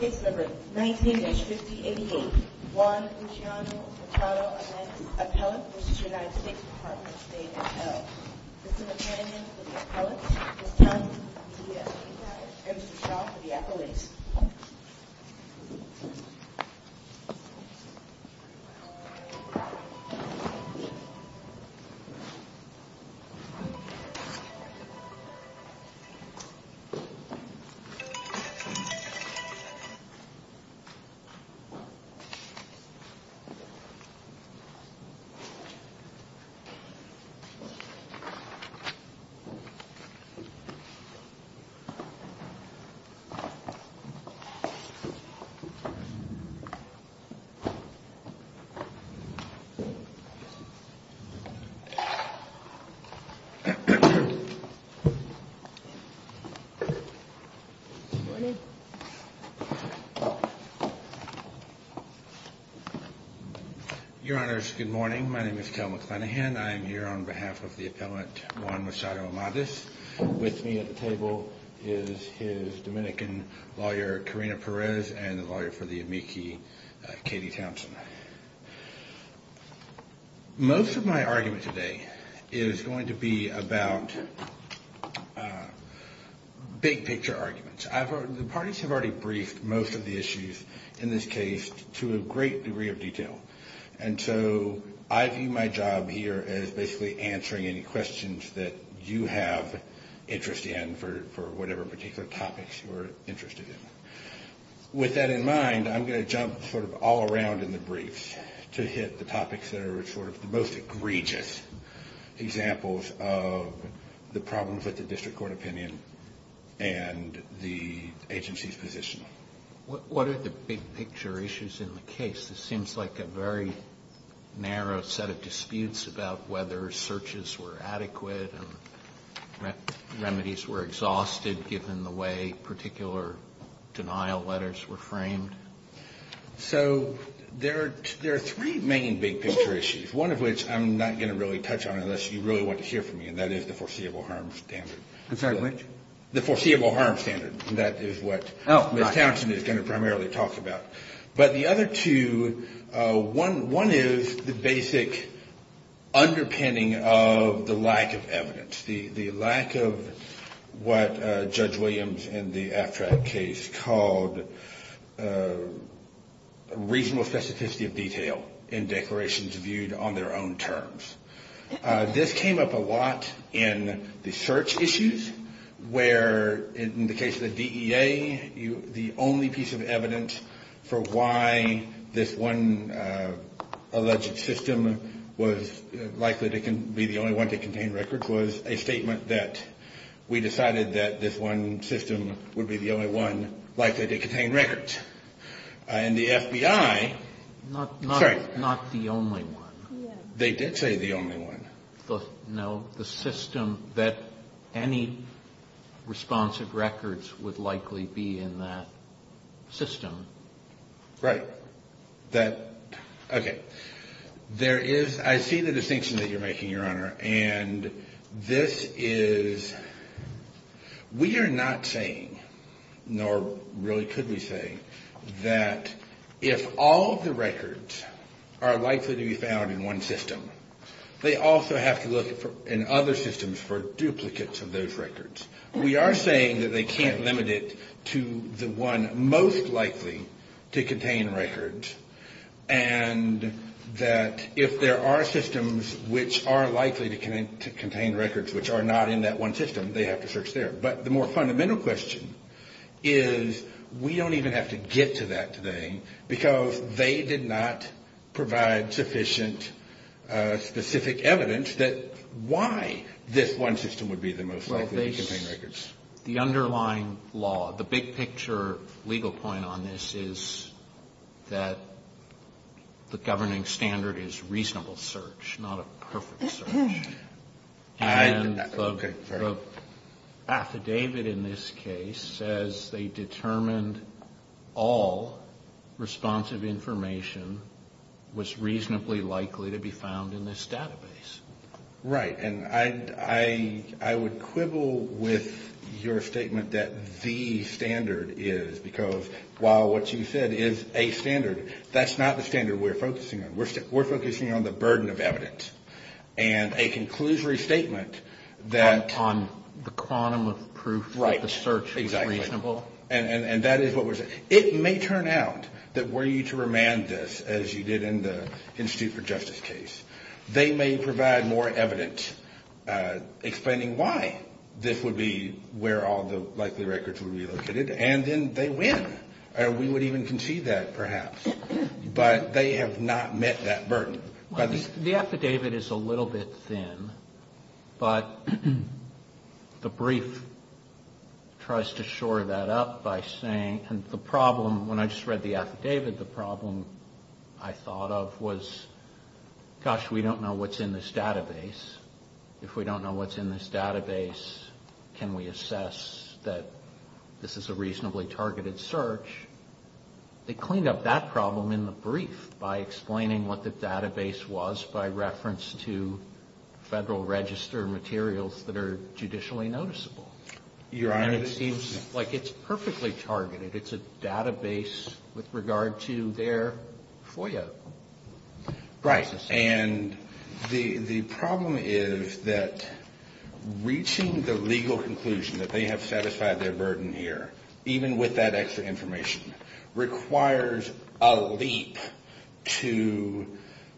Case number 19-5088, Juan Luciano Mercado, Appellant, United States Department of State and Health. Assistant Attorney for the Appellant, Ms. Thompson, Mr. Shaw for the Appellant. Good morning, everyone. Your Honors, good morning. My name is Kel McClanahan. I am here on behalf of the Appellant, Juan Mercado Amadeus. With me at the table is his Dominican lawyer, Karina Perez, and the lawyer for the amici, Katie Thompson. Most of my argument today is going to be about big picture arguments. The parties have already briefed most of the issues in this case to a great degree of detail. And so I view my job here as basically answering any questions that you have interest in for whatever particular topics you're interested in. With that in mind, I'm going to jump sort of all around in the briefs to hit the topics that are sort of the most egregious examples of the problems with the district court opinion and the agency's position. What are the big picture issues in the case? This seems like a very narrow set of disputes about whether searches were adequate and remedies were exhausted given the way particular denial letters were framed. So there are three main big picture issues, one of which I'm not going to really touch on unless you really want to hear from me, and that is the foreseeable harm standard. I'm sorry, which? The foreseeable harm standard. That is what Ms. Thompson is going to primarily talk about. But the other two, one is the basic underpinning of the lack of evidence, the lack of what Judge Williams in the AFTRAC case called reasonable specificity of detail in declarations viewed on their own terms. This came up a lot in the search issues where in the case of the DEA, the only piece of evidence for why this one alleged system was likely to be the only one to contain records was a statement that we decided that this one system would be the only one likely to contain records. And the FBI. Sorry. Not the only one. They did say the only one. No, the system that any responsive records would likely be in that system. Right. That, okay. There is, I see the distinction that you're making, Your Honor, and this is, we are not saying, nor really could we say, that if all the records are likely to be found in one system, they also have to look in other systems for duplicates of those records. We are saying that they can't limit it to the one most likely to contain records, and that if there are systems which are likely to contain records which are not in that one system, they have to search there. But the more fundamental question is we don't even have to get to that today because they did not provide sufficient specific evidence that why this one system would be the most likely to contain records. The underlying law, the big picture legal point on this is that the governing standard is reasonable search, not a perfect search. And the affidavit in this case says they determined all responsive information was reasonably likely to be found in this database. Right, and I would quibble with your statement that the standard is, because while what you said is a standard, that's not the standard we're focusing on. We're focusing on the burden of evidence. And a conclusory statement that... On the quantum of proof that the search is reasonable. Right, exactly. And that is what we're saying. It may turn out that were you to remand this as you did in the Institute for Justice case, they may provide more evidence explaining why this would be where all the likely records would be located, and then they win. We would even concede that perhaps. But they have not met that burden. The affidavit is a little bit thin, but the brief tries to shore that up by saying, and the problem when I just read the affidavit, the problem I thought of was, gosh, we don't know what's in this database. If we don't know what's in this database, can we assess that this is a reasonably targeted search? They cleaned up that problem in the brief by explaining what the database was by reference to Federal Register materials that are judicially noticeable. Your Honor... And it seems like it's perfectly targeted. It's a database with regard to their FOIA process. Right. And the problem is that reaching the legal conclusion that they have satisfied their burden here, even with that extra information, requires a leap to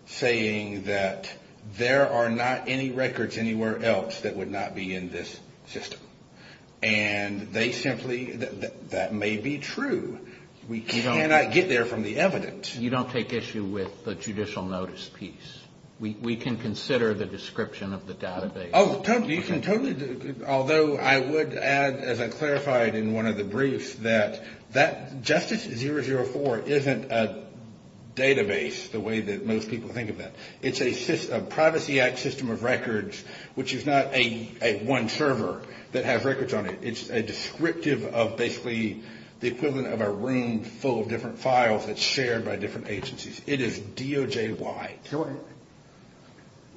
saying that there are not any records anywhere else that would not be in this system. And they simply, that may be true. We cannot get there from the evidence. You don't take issue with the judicial notice piece. We can consider the description of the database. Oh, you can totally, although I would add, as I clarified in one of the briefs, that Justice 004 isn't a database the way that most people think of that. It's a Privacy Act system of records, which is not a one server that has records on it. It's a descriptive of basically the equivalent of a room full of different files that's shared by different agencies. It is DOJ wide.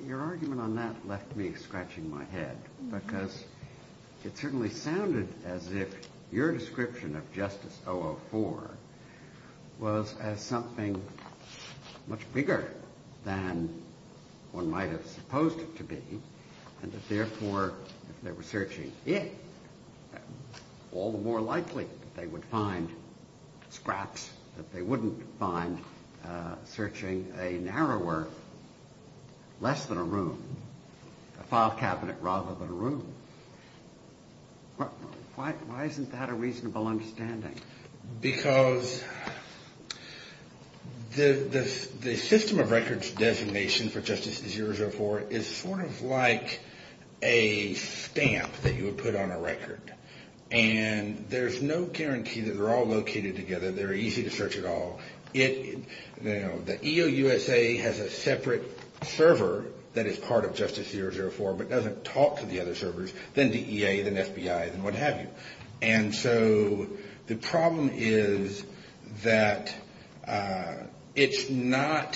Your argument on that left me scratching my head, because it certainly sounded as if your description of Justice 004 was as something much bigger than one might have supposed it to be, and that therefore, if they were searching it, all the more likely that they would find scraps that they wouldn't find searching a narrower, less than a room, a file cabinet rather than a room. Why isn't that a reasonable understanding? Because the system of records designation for Justice 004 is sort of like a stamp that you would put on a record, and there's no guarantee that they're all located together, they're easy to search at all. The EOUSA has a separate server that is part of Justice 004, but doesn't talk to the other servers, then DEA, then FBI, then what have you. And so the problem is that it's not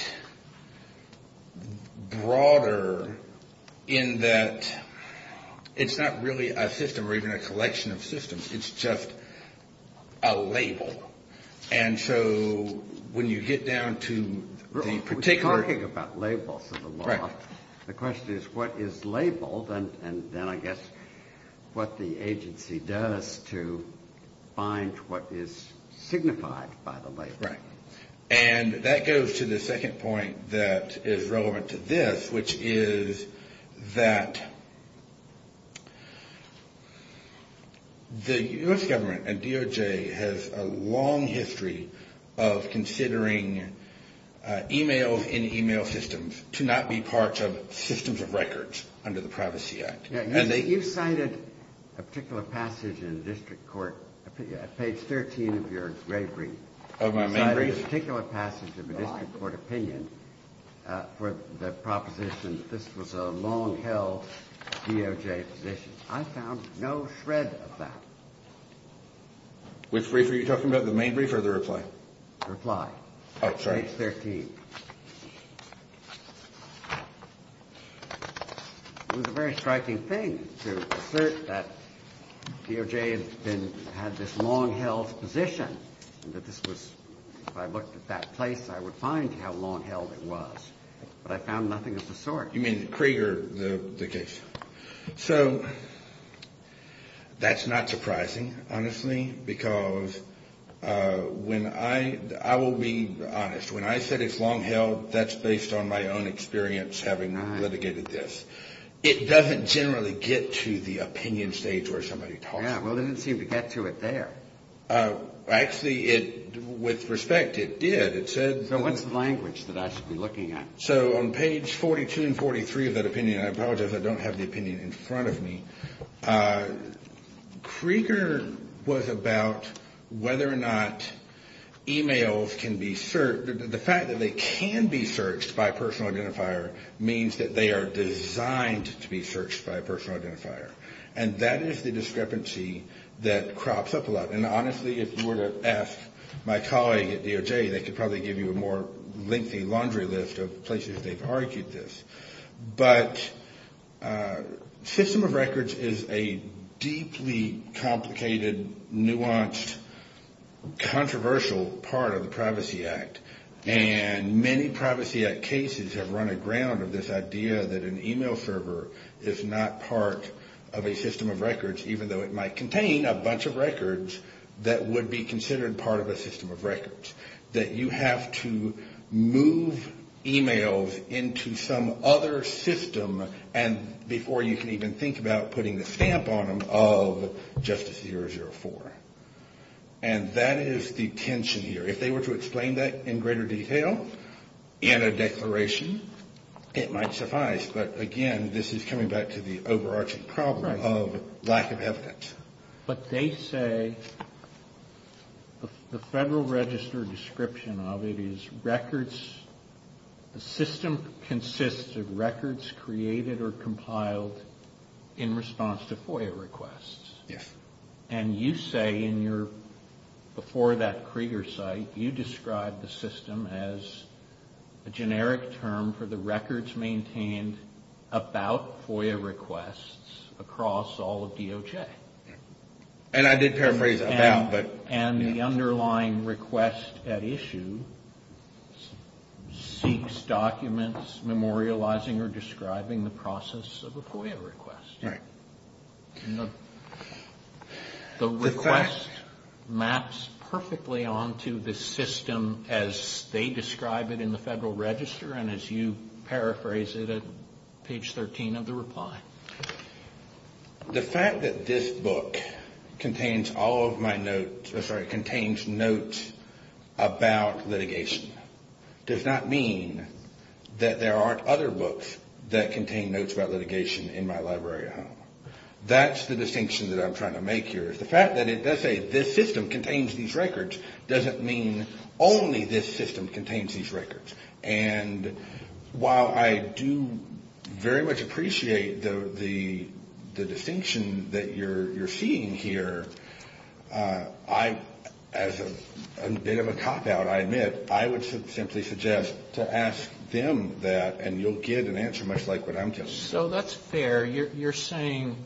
broader in that it's not really a system or even a collection of systems, it's just a label. And so when you get down to the particular... We're talking about labels in the law. Right. The question is what is labeled, and then I guess what the agency does to find what is signified by the label. Right. And that goes to the second point that is relevant to this, which is that the U.S. government and DOJ has a long history of considering e-mails in e-mail systems to not be parts of systems of records under the Privacy Act. You cited a particular passage in district court, page 13 of your grave brief. Of my main brief? You cited a particular passage of a district court opinion for the proposition that this was a long-held DOJ position. I found no shred of that. Which brief are you talking about, the main brief or the reply? Reply. Oh, sorry. Page 13. It was a very striking thing to assert that DOJ had this long-held position, that this was... If I looked at that place, I would find how long-held it was. But I found nothing of the sort. You mean Krieger, the case? So that's not surprising, honestly. Because when I... I will be honest. When I said it's long-held, that's based on my own experience having litigated this. It doesn't generally get to the opinion stage where somebody talks about it. Yeah, well, it didn't seem to get to it there. Actually, with respect, it did. It said... So what's the language that I should be looking at? So on page 42 and 43 of that opinion, and I apologize, I don't have the opinion in front of me, Krieger was about whether or not emails can be searched. The fact that they can be searched by a personal identifier means that they are designed to be searched by a personal identifier. And that is the discrepancy that crops up a lot. And honestly, if you were to ask my colleague at DOJ, they could probably give you a more lengthy laundry list of places they've argued this. But system of records is a deeply complicated, nuanced, controversial part of the Privacy Act. And many Privacy Act cases have run aground of this idea that an email server is not part of a system of records, even though it might contain a bunch of records that would be considered part of a system of records. That you have to move emails into some other system before you can even think about putting the stamp on them of Justice 004. And that is the tension here. If they were to explain that in greater detail in a declaration, it might suffice. But again, this is coming back to the overarching problem of lack of evidence. But they say the Federal Register description of it is records. The system consists of records created or compiled in response to FOIA requests. Yes. And you say in your, before that Krieger site, you described the system as a generic term for the records maintained about FOIA requests across all of DOJ. And I did paraphrase, about. And the underlying request at issue seeks documents memorializing or describing the process of a FOIA request. Right. The request maps perfectly onto the system as they describe it in the Federal Register and as you paraphrase it at page 13 of the reply. The fact that this book contains notes about litigation does not mean that there aren't other books that contain notes about litigation in my library at home. That's the distinction that I'm trying to make here. The fact that it does say this system contains these records doesn't mean only this system contains these records. And while I do very much appreciate the distinction that you're seeing here, I, as a bit of a cop out, I admit, I would simply suggest to ask them that and you'll get an answer much like what I'm getting. So that's fair. You're saying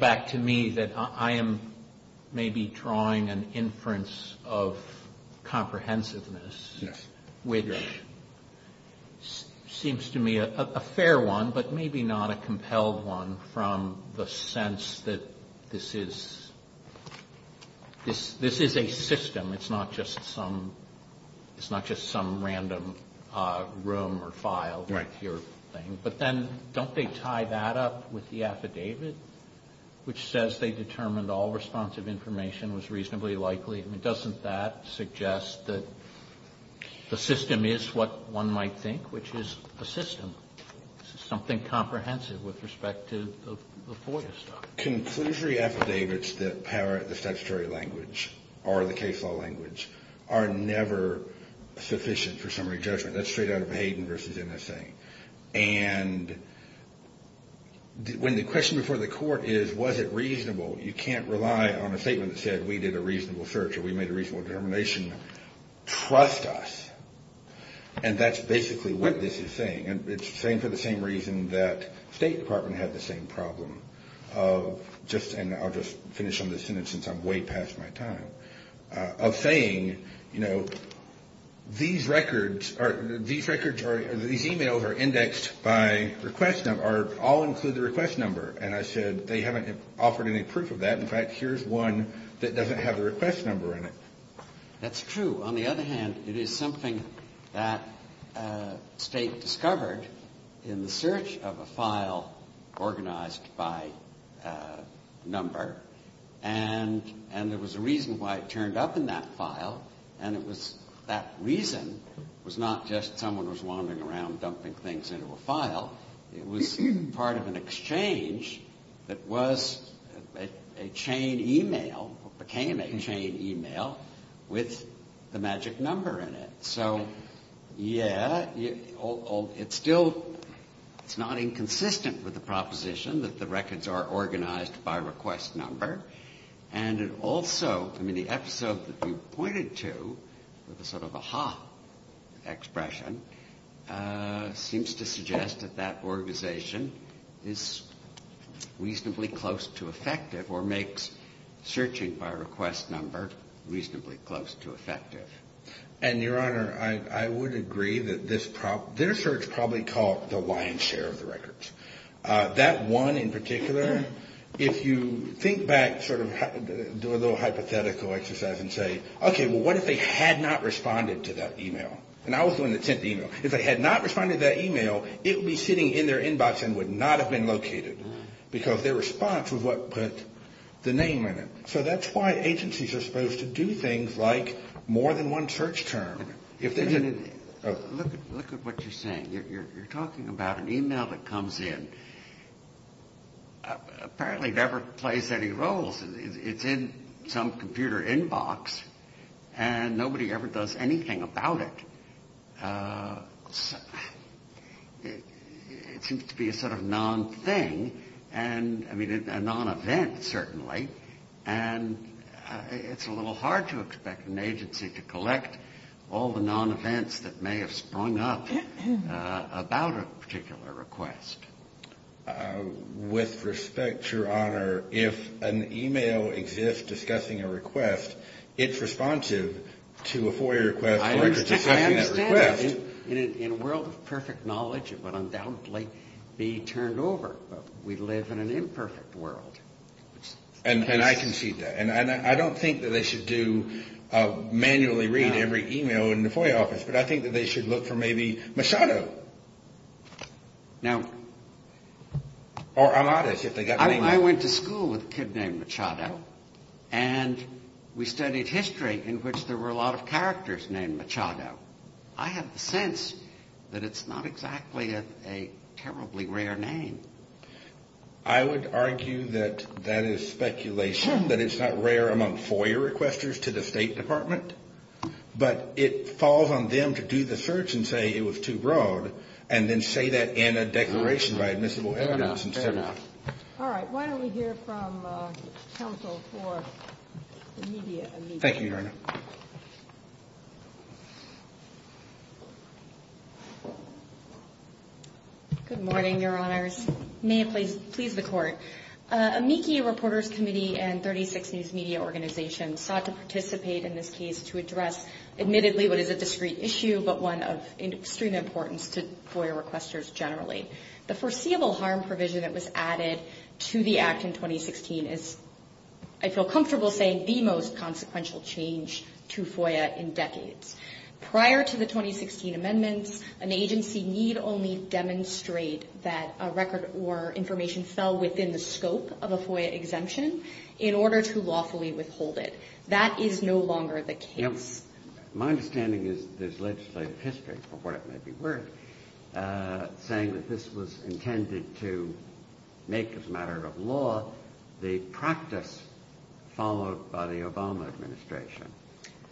back to me that I am maybe drawing an inference of comprehensiveness, which seems to me a fair one, but maybe not a compelled one from the sense that this is a system. It's not just some random room or file. Right. But then don't they tie that up with the affidavit, which says they determined all responsive information was reasonably likely? I mean, doesn't that suggest that the system is what one might think, which is a system, something comprehensive with respect to the FOIA stuff? Conclusory affidavits that parrot the statutory language or the case law language are never sufficient for summary judgment. That's straight out of Hayden versus NSA. And when the question before the court is was it reasonable, you can't rely on a statement that said we did a reasonable search or we made a reasonable determination. Trust us. And that's basically what this is saying. And it's saying for the same reason that the State Department had the same problem of just and I'll just finish on this sentence since I'm way past my time. Of saying, you know, these records are these records or these e-mails are indexed by request. They all include the request number. And I said they haven't offered any proof of that. In fact, here's one that doesn't have the request number in it. That's true. On the other hand, it is something that State discovered in the search of a file organized by number. And there was a reason why it turned up in that file. And it was that reason was not just someone was wandering around dumping things into a file. It was part of an exchange that was a chain e-mail or became a chain e-mail with the magic number in it. So, yeah, it's still it's not inconsistent with the proposition that the records are organized by request number. And it also, I mean, the episode that you pointed to with a sort of aha expression seems to suggest that that organization is reasonably close to effective or makes searching by request number reasonably close to effective. And, Your Honor, I would agree that this their search probably caught the lion's share of the records. That one in particular, if you think back sort of do a little hypothetical exercise and say, okay, well, what if they had not responded to that e-mail? And I was doing the sent e-mail. If they had not responded to that e-mail, it would be sitting in their inbox and would not have been located. Because their response was what put the name in it. So that's why agencies are supposed to do things like more than one search term. Look at what you're saying. You're talking about an e-mail that comes in. Apparently it never plays any roles. It's in some computer inbox. And nobody ever does anything about it. It seems to be a sort of non-thing and, I mean, a non-event certainly. And it's a little hard to expect an agency to collect all the non-events that may have sprung up about a particular request. With respect, Your Honor, if an e-mail exists discussing a request, it's responsive to a FOIA request. I understand. In a world of perfect knowledge, it would undoubtedly be turned over. We live in an imperfect world. And I concede that. And I don't think that they should do manually read every e-mail in the FOIA office. But I think that they should look for maybe Machado. Or Amadeus, if they got the name right. I went to school with a kid named Machado. And we studied history in which there were a lot of characters named Machado. I have the sense that it's not exactly a terribly rare name. I would argue that that is speculation. That it's not rare among FOIA requesters to the State Department. But it falls on them to do the search and say it was too broad. And then say that in a declaration by admissible evidence. Fair enough. All right. Why don't we hear from counsel for the media. Thank you, Your Honor. Good morning, Your Honors. May it please the Court. Amici Reporters Committee and 36 news media organizations sought to participate in this case to address, admittedly, what is a discrete issue but one of extreme importance to FOIA requesters generally. The foreseeable harm provision that was added to the act in 2016 is, I feel comfortable saying, the most consequential change to FOIA in decades. Prior to the 2016 amendments, an agency need only demonstrate that a record or information fell within the scope of a FOIA exemption in order to lawfully withhold it. That is no longer the case. My understanding is there's legislative history, for what it may be worth, saying that this was intended to make as a matter of law the practice followed by the Obama administration.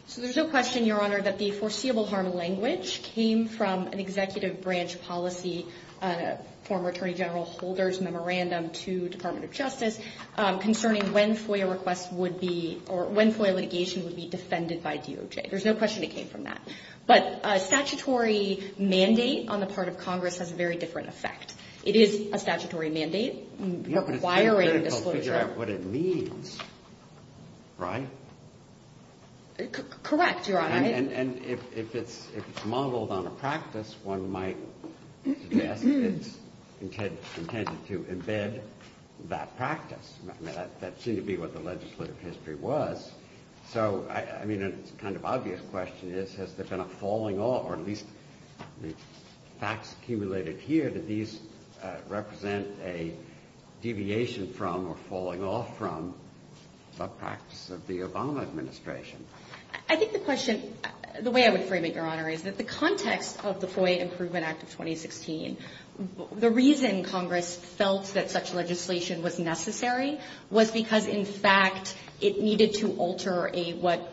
So there's no question, Your Honor, that the foreseeable harm language came from an executive branch policy, a former Attorney General Holder's memorandum to Department of Justice, concerning when FOIA requests would be or when FOIA litigation would be defended by DOJ. There's no question it came from that. But a statutory mandate on the part of Congress has a very different effect. It is a statutory mandate requiring disclosure. That's what it means, right? Correct, Your Honor. And if it's modeled on a practice, one might suggest it's intended to embed that practice. That seemed to be what the legislative history was. So, I mean, a kind of obvious question is, has there been a falling off, or at least the facts accumulated here, did these represent a deviation from or falling off from the practice of the Obama administration? I think the question, the way I would frame it, Your Honor, is that the context of the FOIA Improvement Act of 2016, the reason Congress felt that such legislation was necessary was because, in fact, it needed to alter what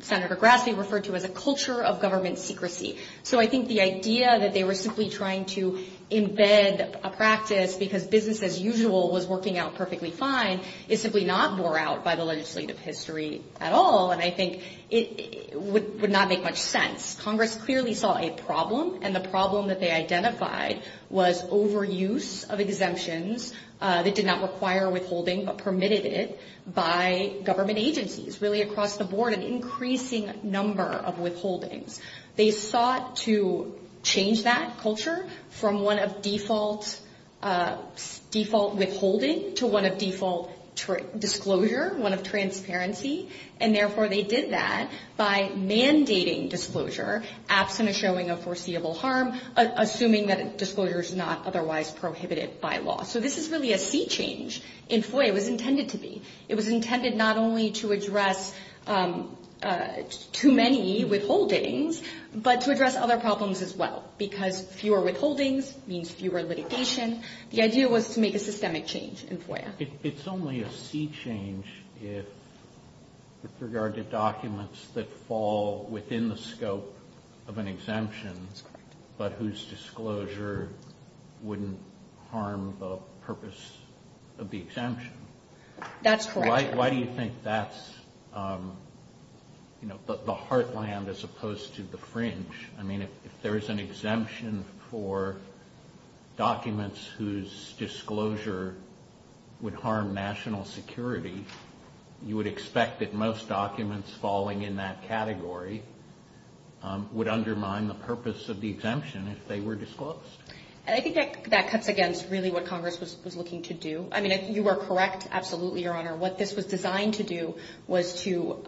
Senator Grassley referred to as a culture of government secrecy. So I think the idea that they were simply trying to embed a practice because business as usual was working out perfectly fine is simply not bore out by the legislative history at all. And I think it would not make much sense. Congress clearly saw a problem, and the problem that they identified was overuse of exemptions that did not require withholding but permitted it by government agencies. Really, across the board, an increasing number of withholdings. They sought to change that culture from one of default withholding to one of default disclosure, one of transparency. And, therefore, they did that by mandating disclosure, absent a showing of foreseeable harm, assuming that disclosure is not otherwise prohibited by law. So this is really a sea change in FOIA. It was intended to be. It was intended not only to address too many withholdings but to address other problems as well because fewer withholdings means fewer litigation. The idea was to make a systemic change in FOIA. It's only a sea change with regard to documents that fall within the scope of an exemption but whose disclosure wouldn't harm the purpose of the exemption. That's correct. Why do you think that's the heartland as opposed to the fringe? I mean, if there is an exemption for documents whose disclosure would harm national security, you would expect that most documents falling in that category would undermine the purpose of the exemption if they were disclosed. And I think that cuts against really what Congress was looking to do. I mean, you are correct, absolutely, Your Honor. What this was designed to do was to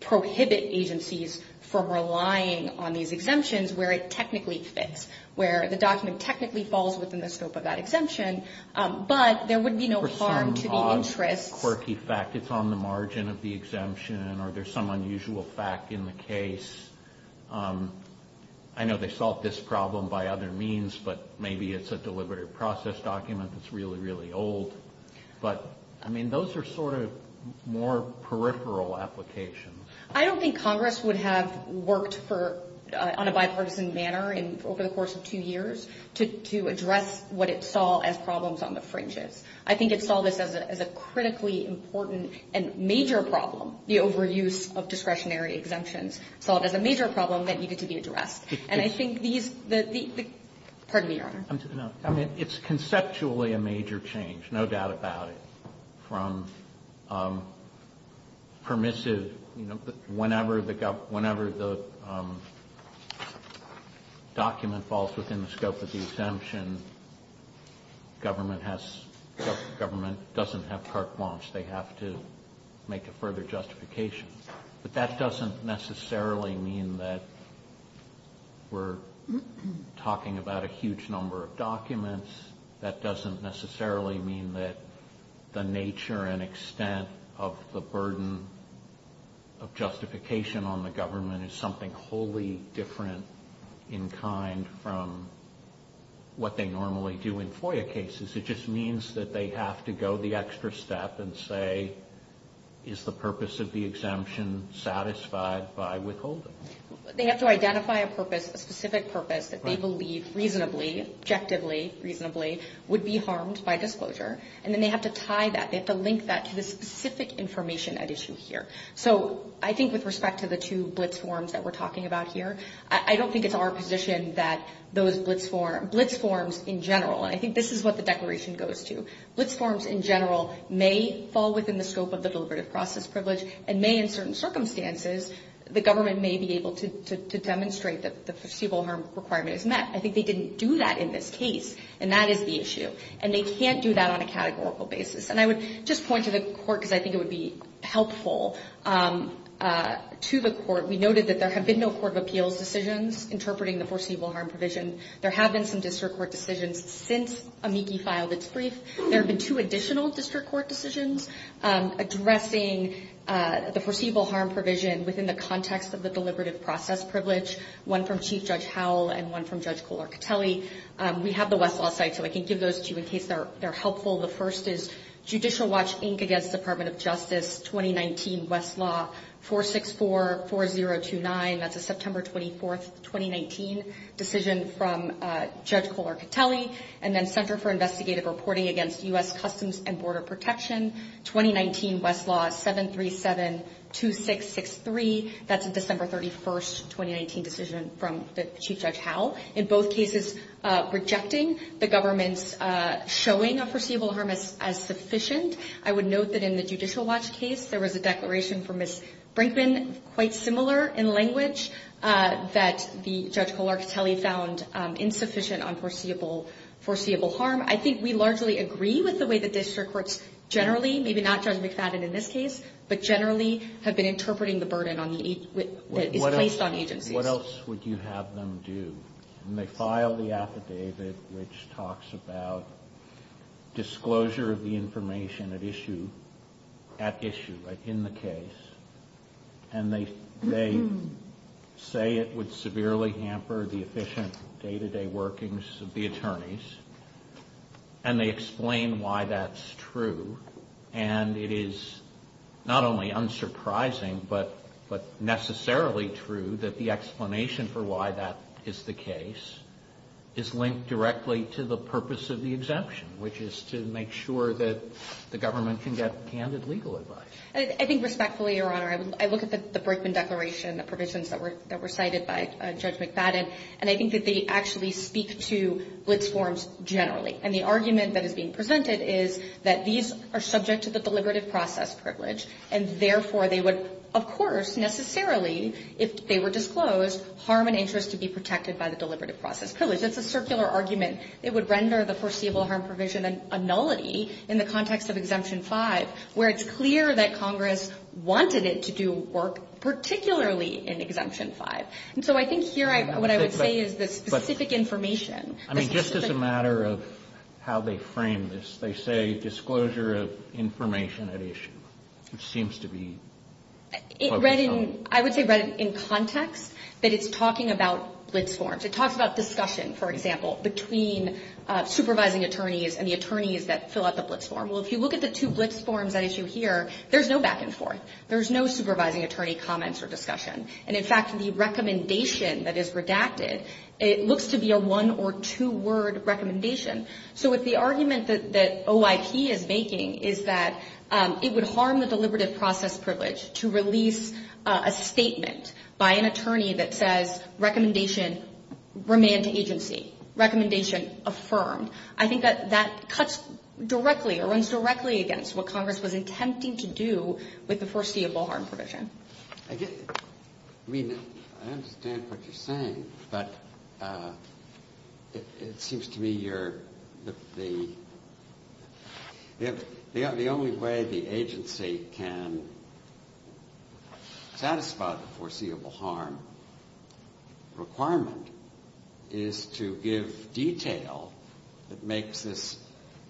prohibit agencies from relying on these exemptions where it technically fits, where the document technically falls within the scope of that exemption, but there would be no harm to the interests. For some odd, quirky fact, it's on the margin of the exemption, or there's some unusual fact in the case. I know they solved this problem by other means, but maybe it's a deliberative process document that's really, really old. But, I mean, those are sort of more peripheral applications. I don't think Congress would have worked for, on a bipartisan manner over the course of two years to address what it saw as problems on the fringes. I think it saw this as a critically important and major problem, the overuse of discretionary exemptions, saw it as a major problem that needed to be addressed. It's conceptually a major change, no doubt about it, from permissive, whenever the document falls within the scope of the exemption, government doesn't have carte blanche. They have to make a further justification. But that doesn't necessarily mean that we're talking about a huge number of documents. That doesn't necessarily mean that the nature and extent of the burden of justification on the government is something wholly different in kind from what they normally do in FOIA cases. It just means that they have to go the extra step and say, is the purpose of the exemption satisfied by withholding? They have to identify a purpose, a specific purpose that they believe reasonably, objectively reasonably, would be harmed by disclosure, and then they have to tie that, they have to link that to the specific information at issue here. So I think with respect to the two blitz forms that we're talking about here, I don't think it's our position that those blitz forms in general, and I think this is what the declaration goes to, blitz forms in general may fall within the scope of the deliberative process privilege and may in certain circumstances the government may be able to demonstrate that the foreseeable harm requirement is met. I think they didn't do that in this case, and that is the issue. And they can't do that on a categorical basis. And I would just point to the court because I think it would be helpful to the court. We noted that there have been no court of appeals decisions interpreting the foreseeable harm provision. There have been some district court decisions since AMICI filed its brief. There have been two additional district court decisions addressing the foreseeable harm provision within the context of the deliberative process privilege, one from Chief Judge Howell and one from Judge Kohler-Catelli. We have the Westlaw site, so I can give those to you in case they're helpful. The first is Judicial Watch, Inc., against Department of Justice, 2019, Westlaw 4644029. That's a September 24, 2019, decision from Judge Kohler-Catelli. And then Center for Investigative Reporting against U.S. Customs and Border Protection, 2019, Westlaw 7372663. That's a December 31, 2019, decision from Chief Judge Howell. In both cases, rejecting the government's showing of foreseeable harm as sufficient. I would note that in the Judicial Watch case, there was a declaration from Ms. Brinkman, quite similar in language, that Judge Kohler-Catelli found insufficient on foreseeable harm. I think we largely agree with the way the district courts generally, maybe not Judge McFadden in this case, but generally have been interpreting the burden that is placed on agencies. What else would you have them do? And they file the affidavit, which talks about disclosure of the information at issue, at issue, in the case. And they say it would severely hamper the efficient day-to-day workings of the attorneys. And they explain why that's true. And it is not only unsurprising, but necessarily true that the explanation for why that is the case is linked directly to the purpose of the exemption, which is to make sure that the government can get candid legal advice. I think respectfully, Your Honor, I look at the Brinkman Declaration provisions that were cited by Judge McFadden, and I think that they actually speak to blitz forms generally. And the argument that is being presented is that these are subject to the deliberative process privilege, and therefore they would, of course, necessarily, if they were disclosed, harm an interest to be protected by the deliberative process privilege. It's a circular argument. It would render the foreseeable harm provision a nullity in the context of Exemption 5, where it's clear that Congress wanted it to do work particularly in Exemption 5. And so I think here what I would say is the specific information. I mean, just as a matter of how they frame this, they say disclosure of information at issue, which seems to be focused on. I would say read it in context, that it's talking about blitz forms. It talks about discussion, for example, between supervising attorneys and the attorneys that fill out the blitz form. Well, if you look at the two blitz forms at issue here, there's no back and forth. There's no supervising attorney comments or discussion. And, in fact, the recommendation that is redacted, it looks to be a one- or two-word recommendation. So if the argument that OIP is making is that it would harm the deliberative process privilege to release a statement by an attorney that says recommendation remand to agency, recommendation affirmed, I think that that cuts directly or runs directly against what Congress was attempting to do with the foreseeable harm provision. I mean, I understand what you're saying, but it seems to me that the only way the agency can satisfy the foreseeable harm requirement is to give detail that makes this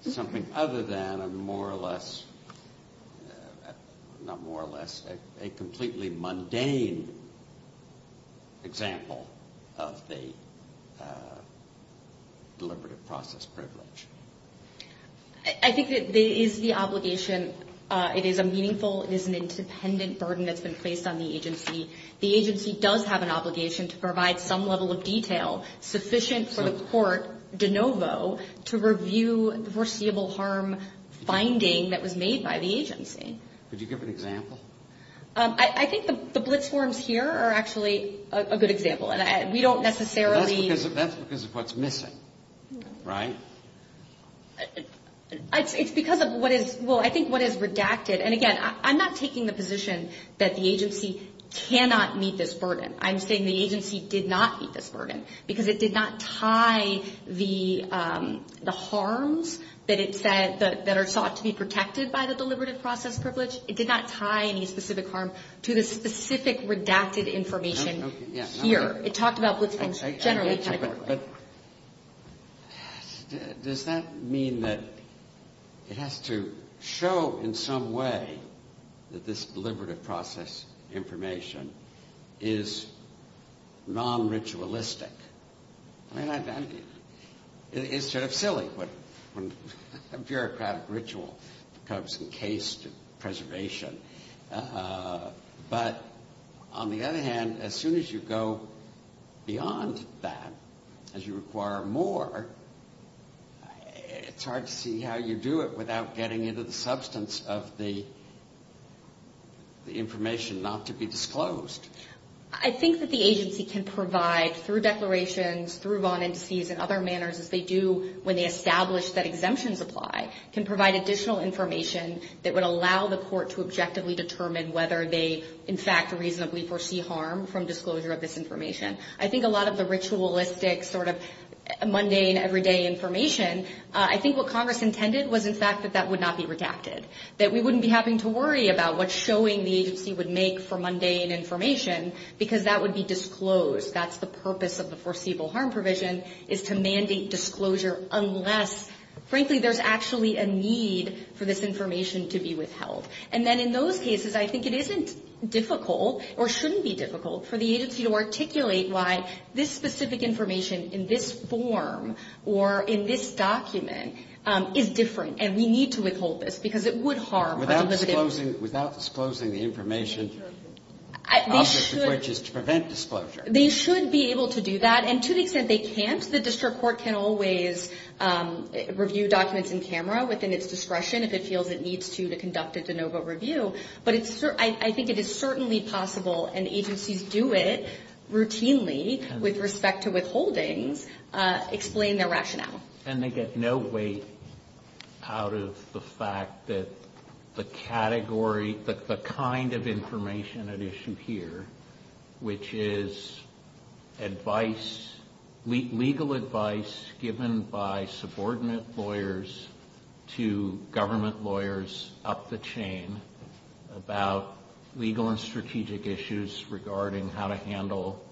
something other than a more or less, not more or less, a completely mundane example of the deliberative process privilege. I think that there is the obligation. It is a meaningful, it is an independent burden that's been placed on the agency. The agency does have an obligation to provide some level of detail sufficient for the court de novo to review the foreseeable harm finding that was made by the agency. Could you give an example? I think the blitz forms here are actually a good example. And we don't necessarily... That's because of what's missing, right? It's because of what is, well, I think what is redacted. And again, I'm not taking the position that the agency cannot meet this burden. I'm saying the agency did not meet this burden because it did not tie the harms that it said, that are sought to be protected by the deliberative process privilege. It did not tie any specific harm to the specific redacted information here. It talked about blitz forms generally. But does that mean that it has to show in some way that this deliberative process information is non-ritualistic? I mean, it's sort of silly when a bureaucratic ritual becomes encased in preservation. But on the other hand, as soon as you go beyond that, as you require more, it's hard to see how you do it without getting into the substance of the information not to be disclosed. I think that the agency can provide, through declarations, through bond indices, and other manners as they do when they establish that exemptions apply, can provide additional information that would allow the court to objectively determine whether they, in fact, reasonably foresee harm from disclosure of this information. I think a lot of the ritualistic sort of mundane, everyday information, I think what Congress intended was, in fact, that that would not be redacted. That we wouldn't be having to worry about what showing the agency would make for mundane information, because that would be disclosed. That's the purpose of the foreseeable harm provision, is to mandate disclosure unless, frankly, there's actually a need for this information to be withheld. And then in those cases, I think it isn't difficult, or shouldn't be difficult, for the agency to articulate why this specific information in this form or in this document is different, and we need to withhold this, because it would harm our publicity. Without disclosing the information, which is to prevent disclosure. They should be able to do that, and to the extent they can't, because the district court can always review documents in camera within its discretion if it feels it needs to to conduct a de novo review. But I think it is certainly possible, and agencies do it routinely with respect to withholdings, explain their rationale. And they get no weight out of the fact that the category, the kind of information at issue here, which is legal advice given by subordinate lawyers to government lawyers up the chain about legal and strategic issues regarding how to handle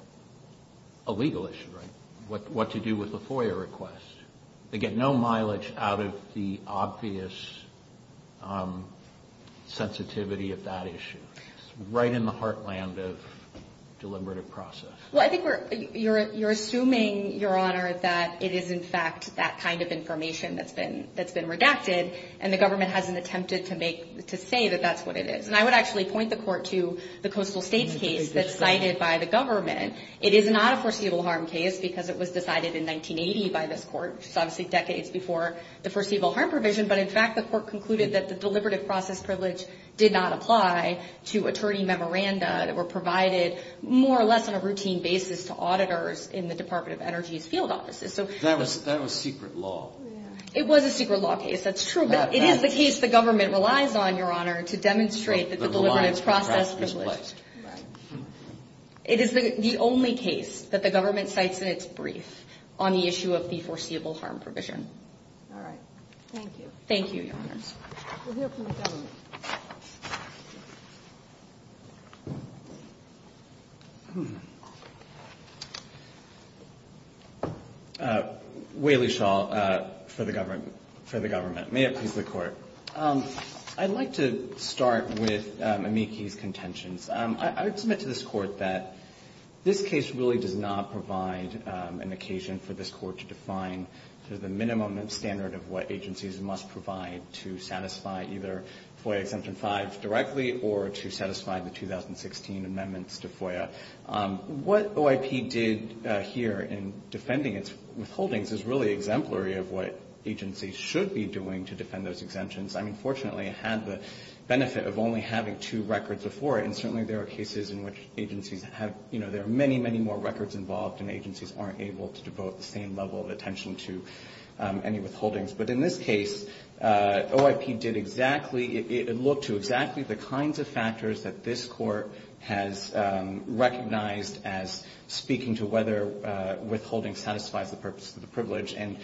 a legal issue, right? What to do with a FOIA request. They get no mileage out of the obvious sensitivity of that issue. It's right in the heartland of deliberative process. Well, I think you're assuming, Your Honor, that it is in fact that kind of information that's been redacted, and the government hasn't attempted to say that that's what it is. And I would actually point the court to the Coastal States case that's cited by the government. It is not a foreseeable harm case, because it was decided in 1980 by this court, which is obviously decades before the foreseeable harm provision. But, in fact, the court concluded that the deliberative process privilege did not apply to attorney memoranda that were provided more or less on a routine basis to auditors in the Department of Energy's field offices. That was secret law. It was a secret law case, that's true. But it is the case the government relies on, Your Honor, to demonstrate that the deliberative process is placed. Right. It is the only case that the government cites in its brief on the issue of the foreseeable harm provision. All right. Thank you. Thank you, Your Honors. We'll hear from the government. Whaley-Shaw for the government. May it please the Court. I'd like to start with Amiki's contentions. I would submit to this Court that this case really does not provide an occasion for this Court to define the minimum standard of what agencies must provide to satisfy either FOIA exemption 5 directly or to satisfy the 2016 amendments to FOIA. What OIP did here in defending its withholdings is really exemplary of what agencies should be doing to defend those exemptions. I mean, fortunately, it had the benefit of only having two records before it, and certainly there are cases in which agencies have, you know, there are many, many more records involved and agencies aren't able to devote the same level of attention to any withholdings. But in this case, OIP did exactly, it looked to exactly the kinds of factors that this Court has recognized as speaking to whether withholding the privilege and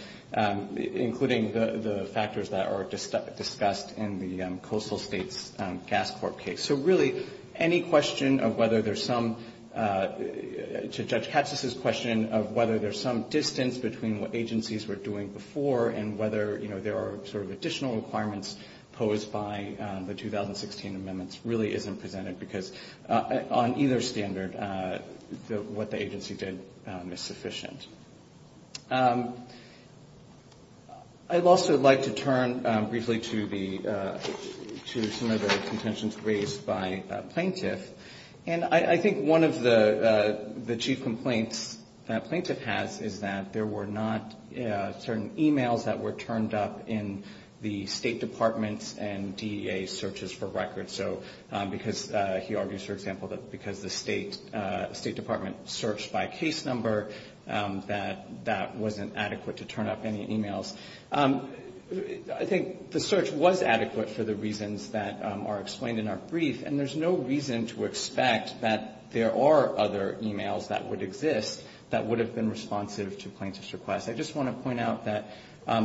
including the factors that are discussed in the Coastal States Gas Corp case. So really, any question of whether there's some, to Judge Katz's question of whether there's some distance between what agencies were doing before and whether, you know, there are sort of additional requirements posed by the 2016 amendments really isn't presented because on either standard, what the agency did is sufficient. I'd also like to turn briefly to some of the contentions raised by plaintiff. And I think one of the chief complaints that plaintiff has is that there were not certain e-mails that were turned up in the State Department's and DEA's searches for records. So because he argues, for example, that because the State Department searched by case number, that that wasn't adequate to turn up any e-mails. I think the search was adequate for the reasons that are explained in our brief, and there's no reason to expect that there are other e-mails that would exist that would have been responsive to plaintiff's request. I just want to point out that,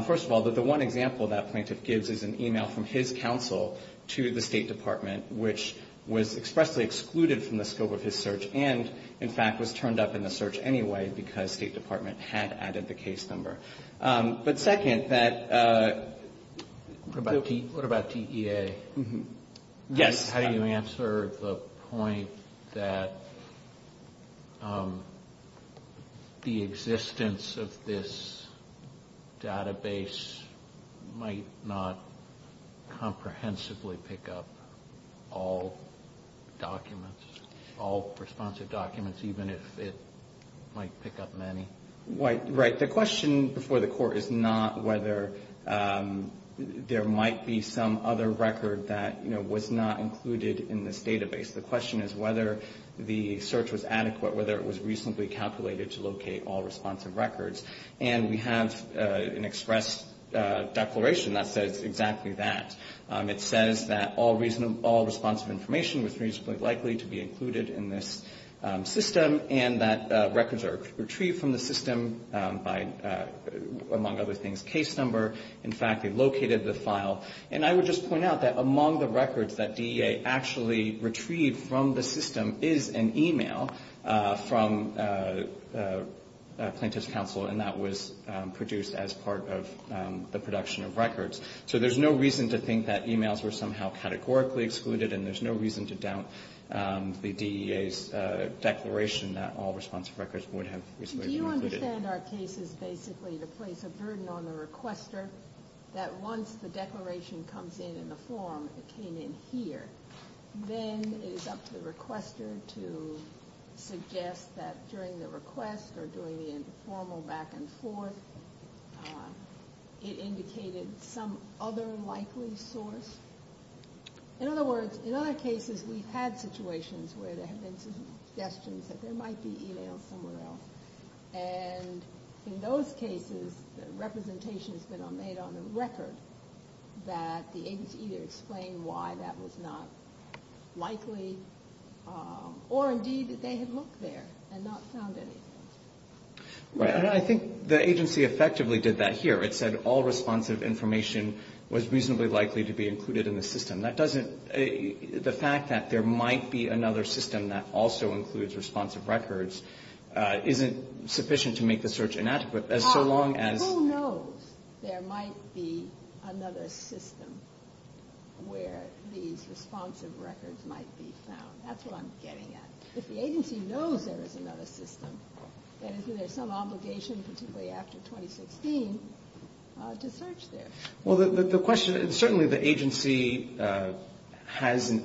first of all, that the one example that plaintiff gives is an e-mail from his counsel to the State Department, which was expressly excluded from the scope of his search and, in fact, was turned up in the search anyway because State Department had added the case number. But second, that... What about DEA? Yes. How do you answer the point that the existence of this database might not comprehensively pick up all documents, all responsive documents, even if it might pick up many? Right. The question before the Court is not whether there might be some other record that, you know, was not included in this database. The question is whether the search was adequate, whether it was reasonably calculated to locate all responsive records. And we have an express declaration that says exactly that. It says that all responsive information was reasonably likely to be included in this system and that records are retrieved from the system by, among other things, case number. In fact, they located the file. And I would just point out that among the records that DEA actually retrieved from the system is an e-mail from plaintiff's counsel, and that was produced as part of the production of records. So there's no reason to think that e-mails were somehow categorically excluded, and there's no reason to doubt the DEA's declaration that all responsive records would have reasonably been included. Do you understand our case is basically to place a burden on the requester that once the declaration comes in in the form, it came in here, then it is up to the requester to suggest that during the request or during the informal back and forth it indicated some other likely source? In other words, in other cases we've had situations where there have been suggestions that there might be e-mails somewhere else, and in those cases the representation has been made on the record that the agency either explained why that was not likely or, indeed, that they had looked there and not found anything. Right. And I think the agency effectively did that here. It said all responsive information was reasonably likely to be included in the system. That doesn't the fact that there might be another system that also includes responsive records isn't sufficient to make the search inadequate so long as Who knows there might be another system where these responsive records might be found? That's what I'm getting at. If the agency knows there is another system, then isn't there some obligation, particularly after 2016, to search there? Well, the question is certainly the agency has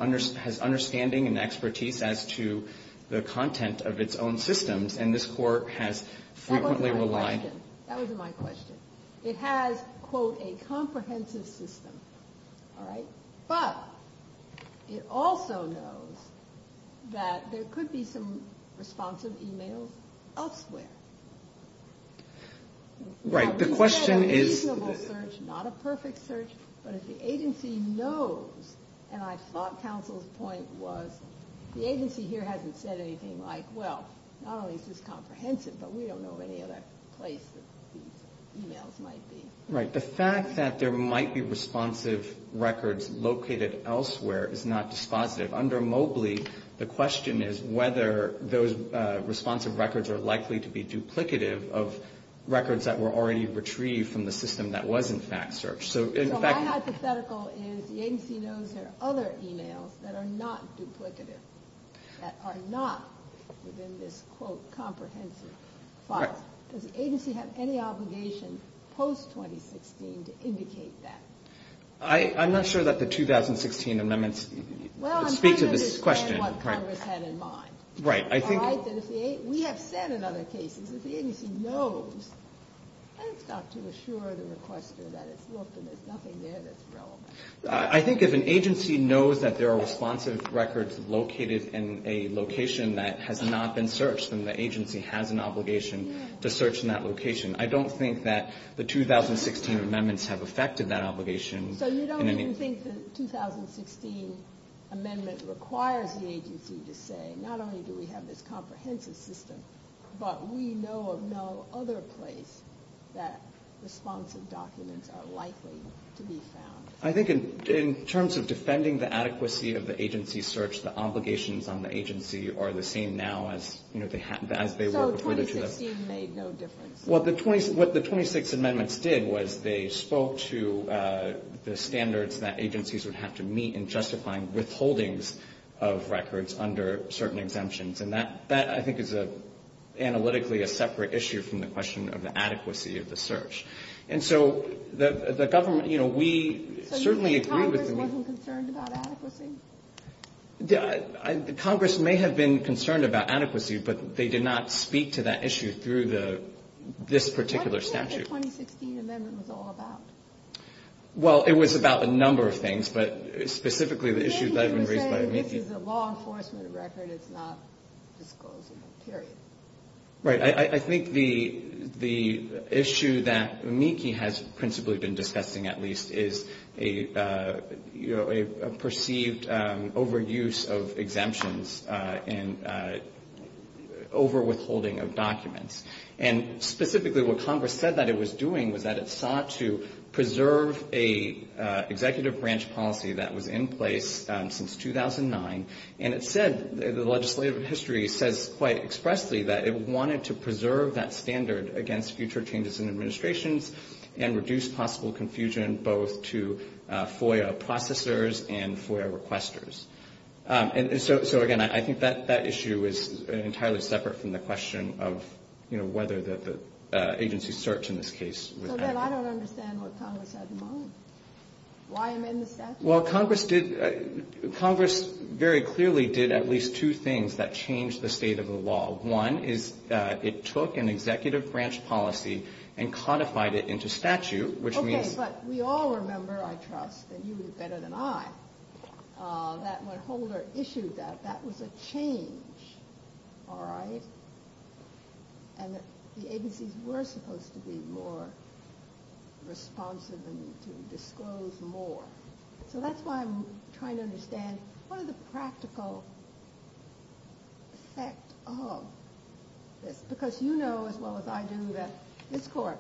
understanding and expertise as to the content of its own systems, and this Court has frequently relied That wasn't my question. That wasn't my question. It has, quote, a comprehensive system. All right? But it also knows that there could be some responsive e-mails elsewhere. Right. The question is We said a reasonable search, not a perfect search, but if the agency knows, and I thought counsel's point was the agency here hasn't said anything like, well, not only is this comprehensive, but we don't know of any other place that these e-mails might be. Right. The fact that there might be responsive records located elsewhere is not dispositive. Under Mobley, the question is whether those responsive records are likely to be duplicative of records that were already retrieved from the system that was, in fact, searched. So in fact So my hypothetical is the agency knows there are other e-mails that are not duplicative, that are not within this, quote, comprehensive file. Right. Does the agency have any obligation post-2016 to indicate that? I'm not sure that the 2016 amendments speak to this question. Well, I'm trying to understand what Congress had in mind. Right. All right? We have said in other cases, if the agency knows, let's start to assure the requester that it's looked and there's nothing there that's relevant. I think if an agency knows that there are responsive records located in a location that has not been searched, then the agency has an obligation to search in that location. I don't think that the 2016 amendments have affected that obligation. So you don't even think the 2016 amendment requires the agency to say, not only do we have this comprehensive system, but we know of no other place that responsive documents are likely to be found? I think in terms of defending the adequacy of the agency's search, the obligations on the agency are the same now as they were before. So 2016 made no difference? What the 26 amendments did was they spoke to the standards that agencies would have to meet in justifying withholdings of records under certain exemptions, and that I think is analytically a separate issue from the question of the adequacy of the search. And so the government, you know, we certainly agree with the need. So you think Congress wasn't concerned about adequacy? Congress may have been concerned about adequacy, but they did not speak to that issue through this particular statute. What do you think the 2016 amendment was all about? Well, it was about a number of things, but specifically the issue that had been raised by Meeke. Meeke was saying this is a law enforcement record. It's not disclosing it, period. Right. I think the issue that Meeke has principally been discussing, at least, is a perceived overuse of exemptions and overwithholding of documents. And specifically what Congress said that it was doing was that it sought to preserve a executive branch policy that was in place since 2009, and it said, the legislative history says quite expressly, that it wanted to preserve that standard against future changes in administrations and reduce possible confusion both to FOIA processors and FOIA requesters. And so, again, I think that issue is entirely separate from the question of, you know, whether the agency search in this case was adequate. So then I don't understand what Congress had in mind. Why am I in the statute? Well, Congress very clearly did at least two things that changed the state of the law. One is it took an executive branch policy and codified it into statute, which means- Okay. But we all remember, I trust, and you would have better than I, that when Holder issued that, that was a change, all right? And the agencies were supposed to be more responsive and to disclose more. So that's why I'm trying to understand what are the practical effect of this? Because you know as well as I do that this court,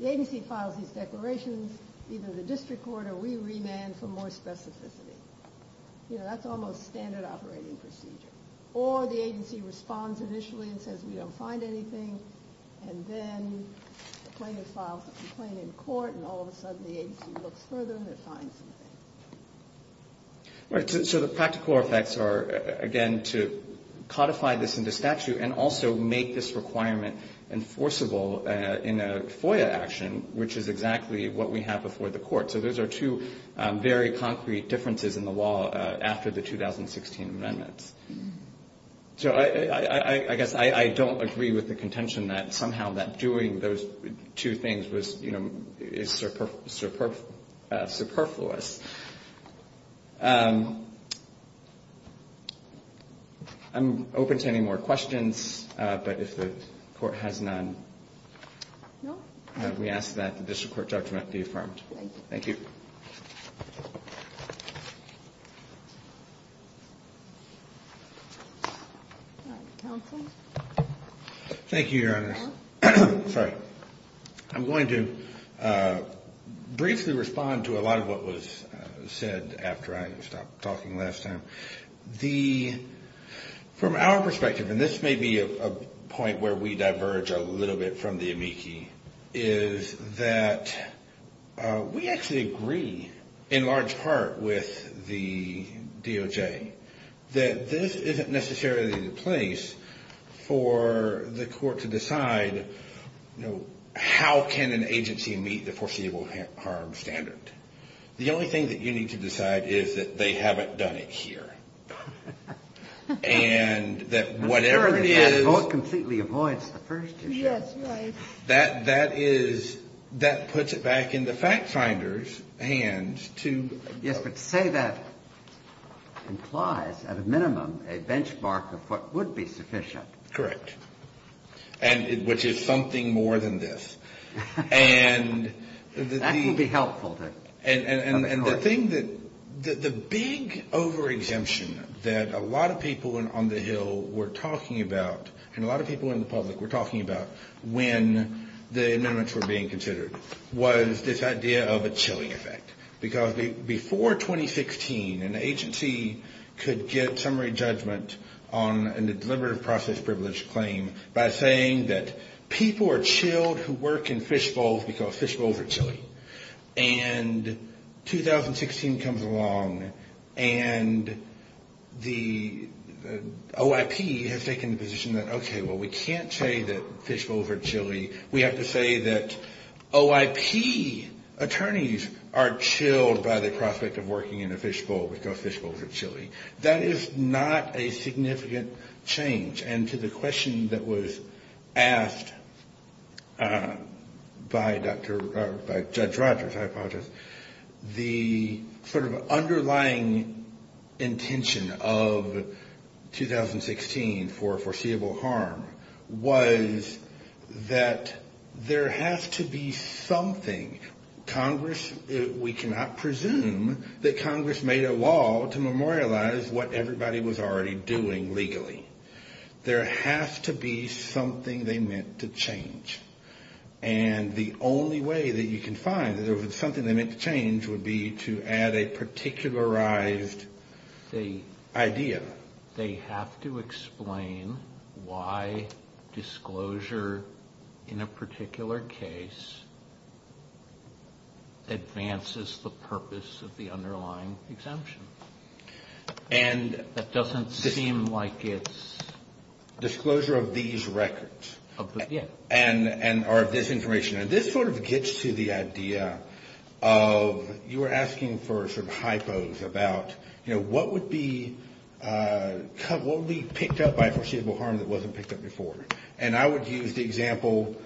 the agency files these declarations, either the district court or we remand for more specificity. You know, that's almost standard operating procedure. Or the agency responds initially and says, we don't find anything, and then the plaintiff files the complaint in court, and all of a sudden the agency looks further and it finds something. Right. So the practical effects are, again, to codify this into statute and also make this requirement enforceable in a FOIA action, which is exactly what we have before the court. So those are two very concrete differences in the law after the 2016 amendments. So I guess I don't agree with the contention that somehow that doing those two things was, you know, is superfluous. I'm open to any more questions, but if the court has none, we ask that the district court judgment be affirmed. Thank you. Thank you, Your Honor. I'm going to briefly respond to a lot of what was said after I stopped talking last time. From our perspective, and this may be a point where we diverge a little bit from the amici, is that we actually agree in large part with the DOJ that this isn't necessarily the place for the court to decide, you know, how can an agency meet the foreseeable harm standard. The only thing that you need to decide is that they haven't done it here. And that whatever it is. I'm sure that that vote completely avoids the first issue. Yes, right. That is, that puts it back in the fact finder's hands to. Yes, but to say that implies at a minimum a benchmark of what would be sufficient. Correct. And which is something more than this. And that would be helpful. And the thing that the big over-exemption that a lot of people on the Hill were talking about, and a lot of people in the public were talking about when the amendments were being considered, was this idea of a chilling effect. Because before 2016, an agency could get summary judgment on a deliberative process privilege claim by saying that people are chilled who work in fishbowls because fishbowls are chilly. And 2016 comes along and the OIP has taken the position that, okay, well, we can't say that fishbowls are chilly. We have to say that OIP attorneys are chilled by the prospect of working in a fishbowl because fishbowls are chilly. That is not a significant change. And to the question that was asked by Judge Rogers, I apologize, the sort of underlying intention of 2016 for foreseeable harm was that there has to be something. Congress, we cannot presume that Congress made a law to memorialize what everybody was already doing legally. There has to be something they meant to change. And the only way that you can find that there was something they meant to change would be to add a particularized idea. They have to explain why disclosure in a particular case advances the purpose of the underlying exemption. And that doesn't seem like it's. Disclosure of these records. Yeah. Or of this information. And this sort of gets to the idea of you were asking for some hypos about, you know, what would be picked up by foreseeable harm that wasn't picked up before? And I would use the example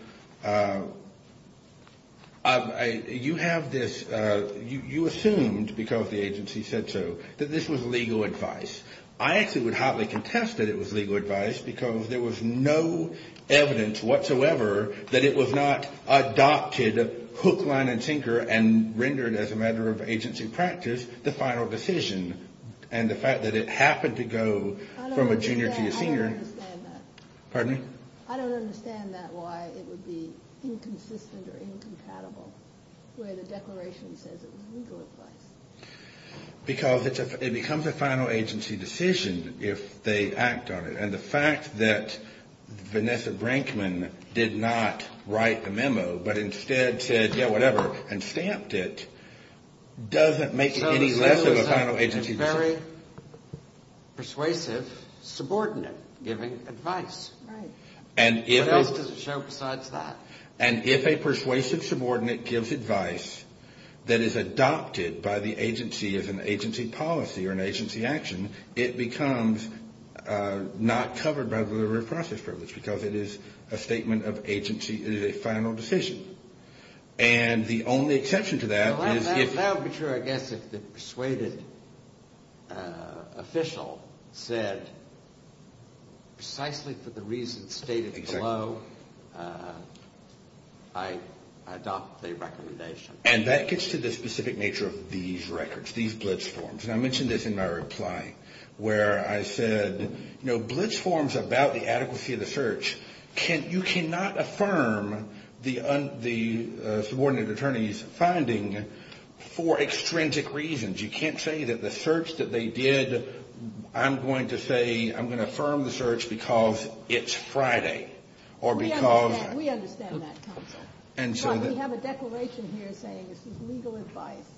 of you have this, you assumed, because the agency said so, that this was legal advice. I actually would hotly contest that it was legal advice because there was no evidence whatsoever that it was not adopted, hook, line, and sinker, and rendered as a matter of agency practice the final decision. And the fact that it happened to go from a junior to a senior. I don't understand that. Pardon me? I don't understand that why it would be inconsistent or incompatible where the declaration says it was legal advice. Because it becomes a final agency decision if they act on it. And the fact that Vanessa Brinkman did not write the memo but instead said, yeah, whatever, and stamped it doesn't make it any less of a final agency decision. It's a very persuasive subordinate giving advice. Right. What else does it show besides that? And if a persuasive subordinate gives advice that is adopted by the agency as an agency policy or an agency action, it becomes not covered by the liberal process privilege because it is a statement of agency, it is a final decision. And the only exception to that is if. Well, that would be true, I guess, if the persuaded official said precisely for the reasons stated below I adopt the recommendation. And that gets to the specific nature of these records, these blitz forms. And I mentioned this in my reply where I said, you know, you can't say that the search that they did, I'm going to say, I'm going to affirm the search because it's Friday or because. We understand that counsel. And so. We have a declaration here saying this is legal advice.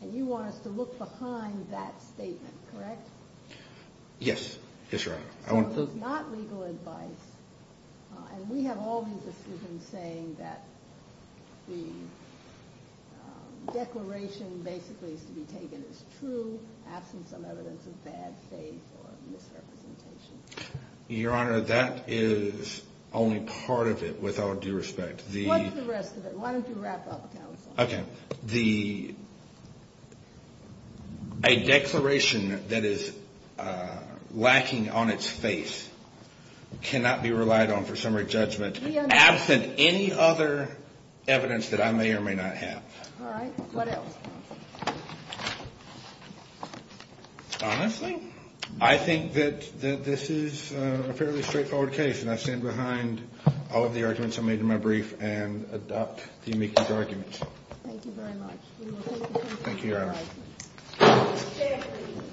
And you want us to look behind that statement, correct? Yes. Yes, Your Honor. So it's not legal advice. And we have all these decisions saying that the declaration basically is to be taken as true, absent some evidence of bad faith or misrepresentation. Your Honor, that is only part of it without due respect. What is the rest of it? Why don't you wrap up, counsel? Okay. The. A declaration that is lacking on its face cannot be relied on for summary judgment. Absent any other evidence that I may or may not have. All right. What else? Honestly, I think that this is a fairly straightforward case. And I stand behind all of the arguments I made in my brief and adopt the amicable arguments. Thank you very much.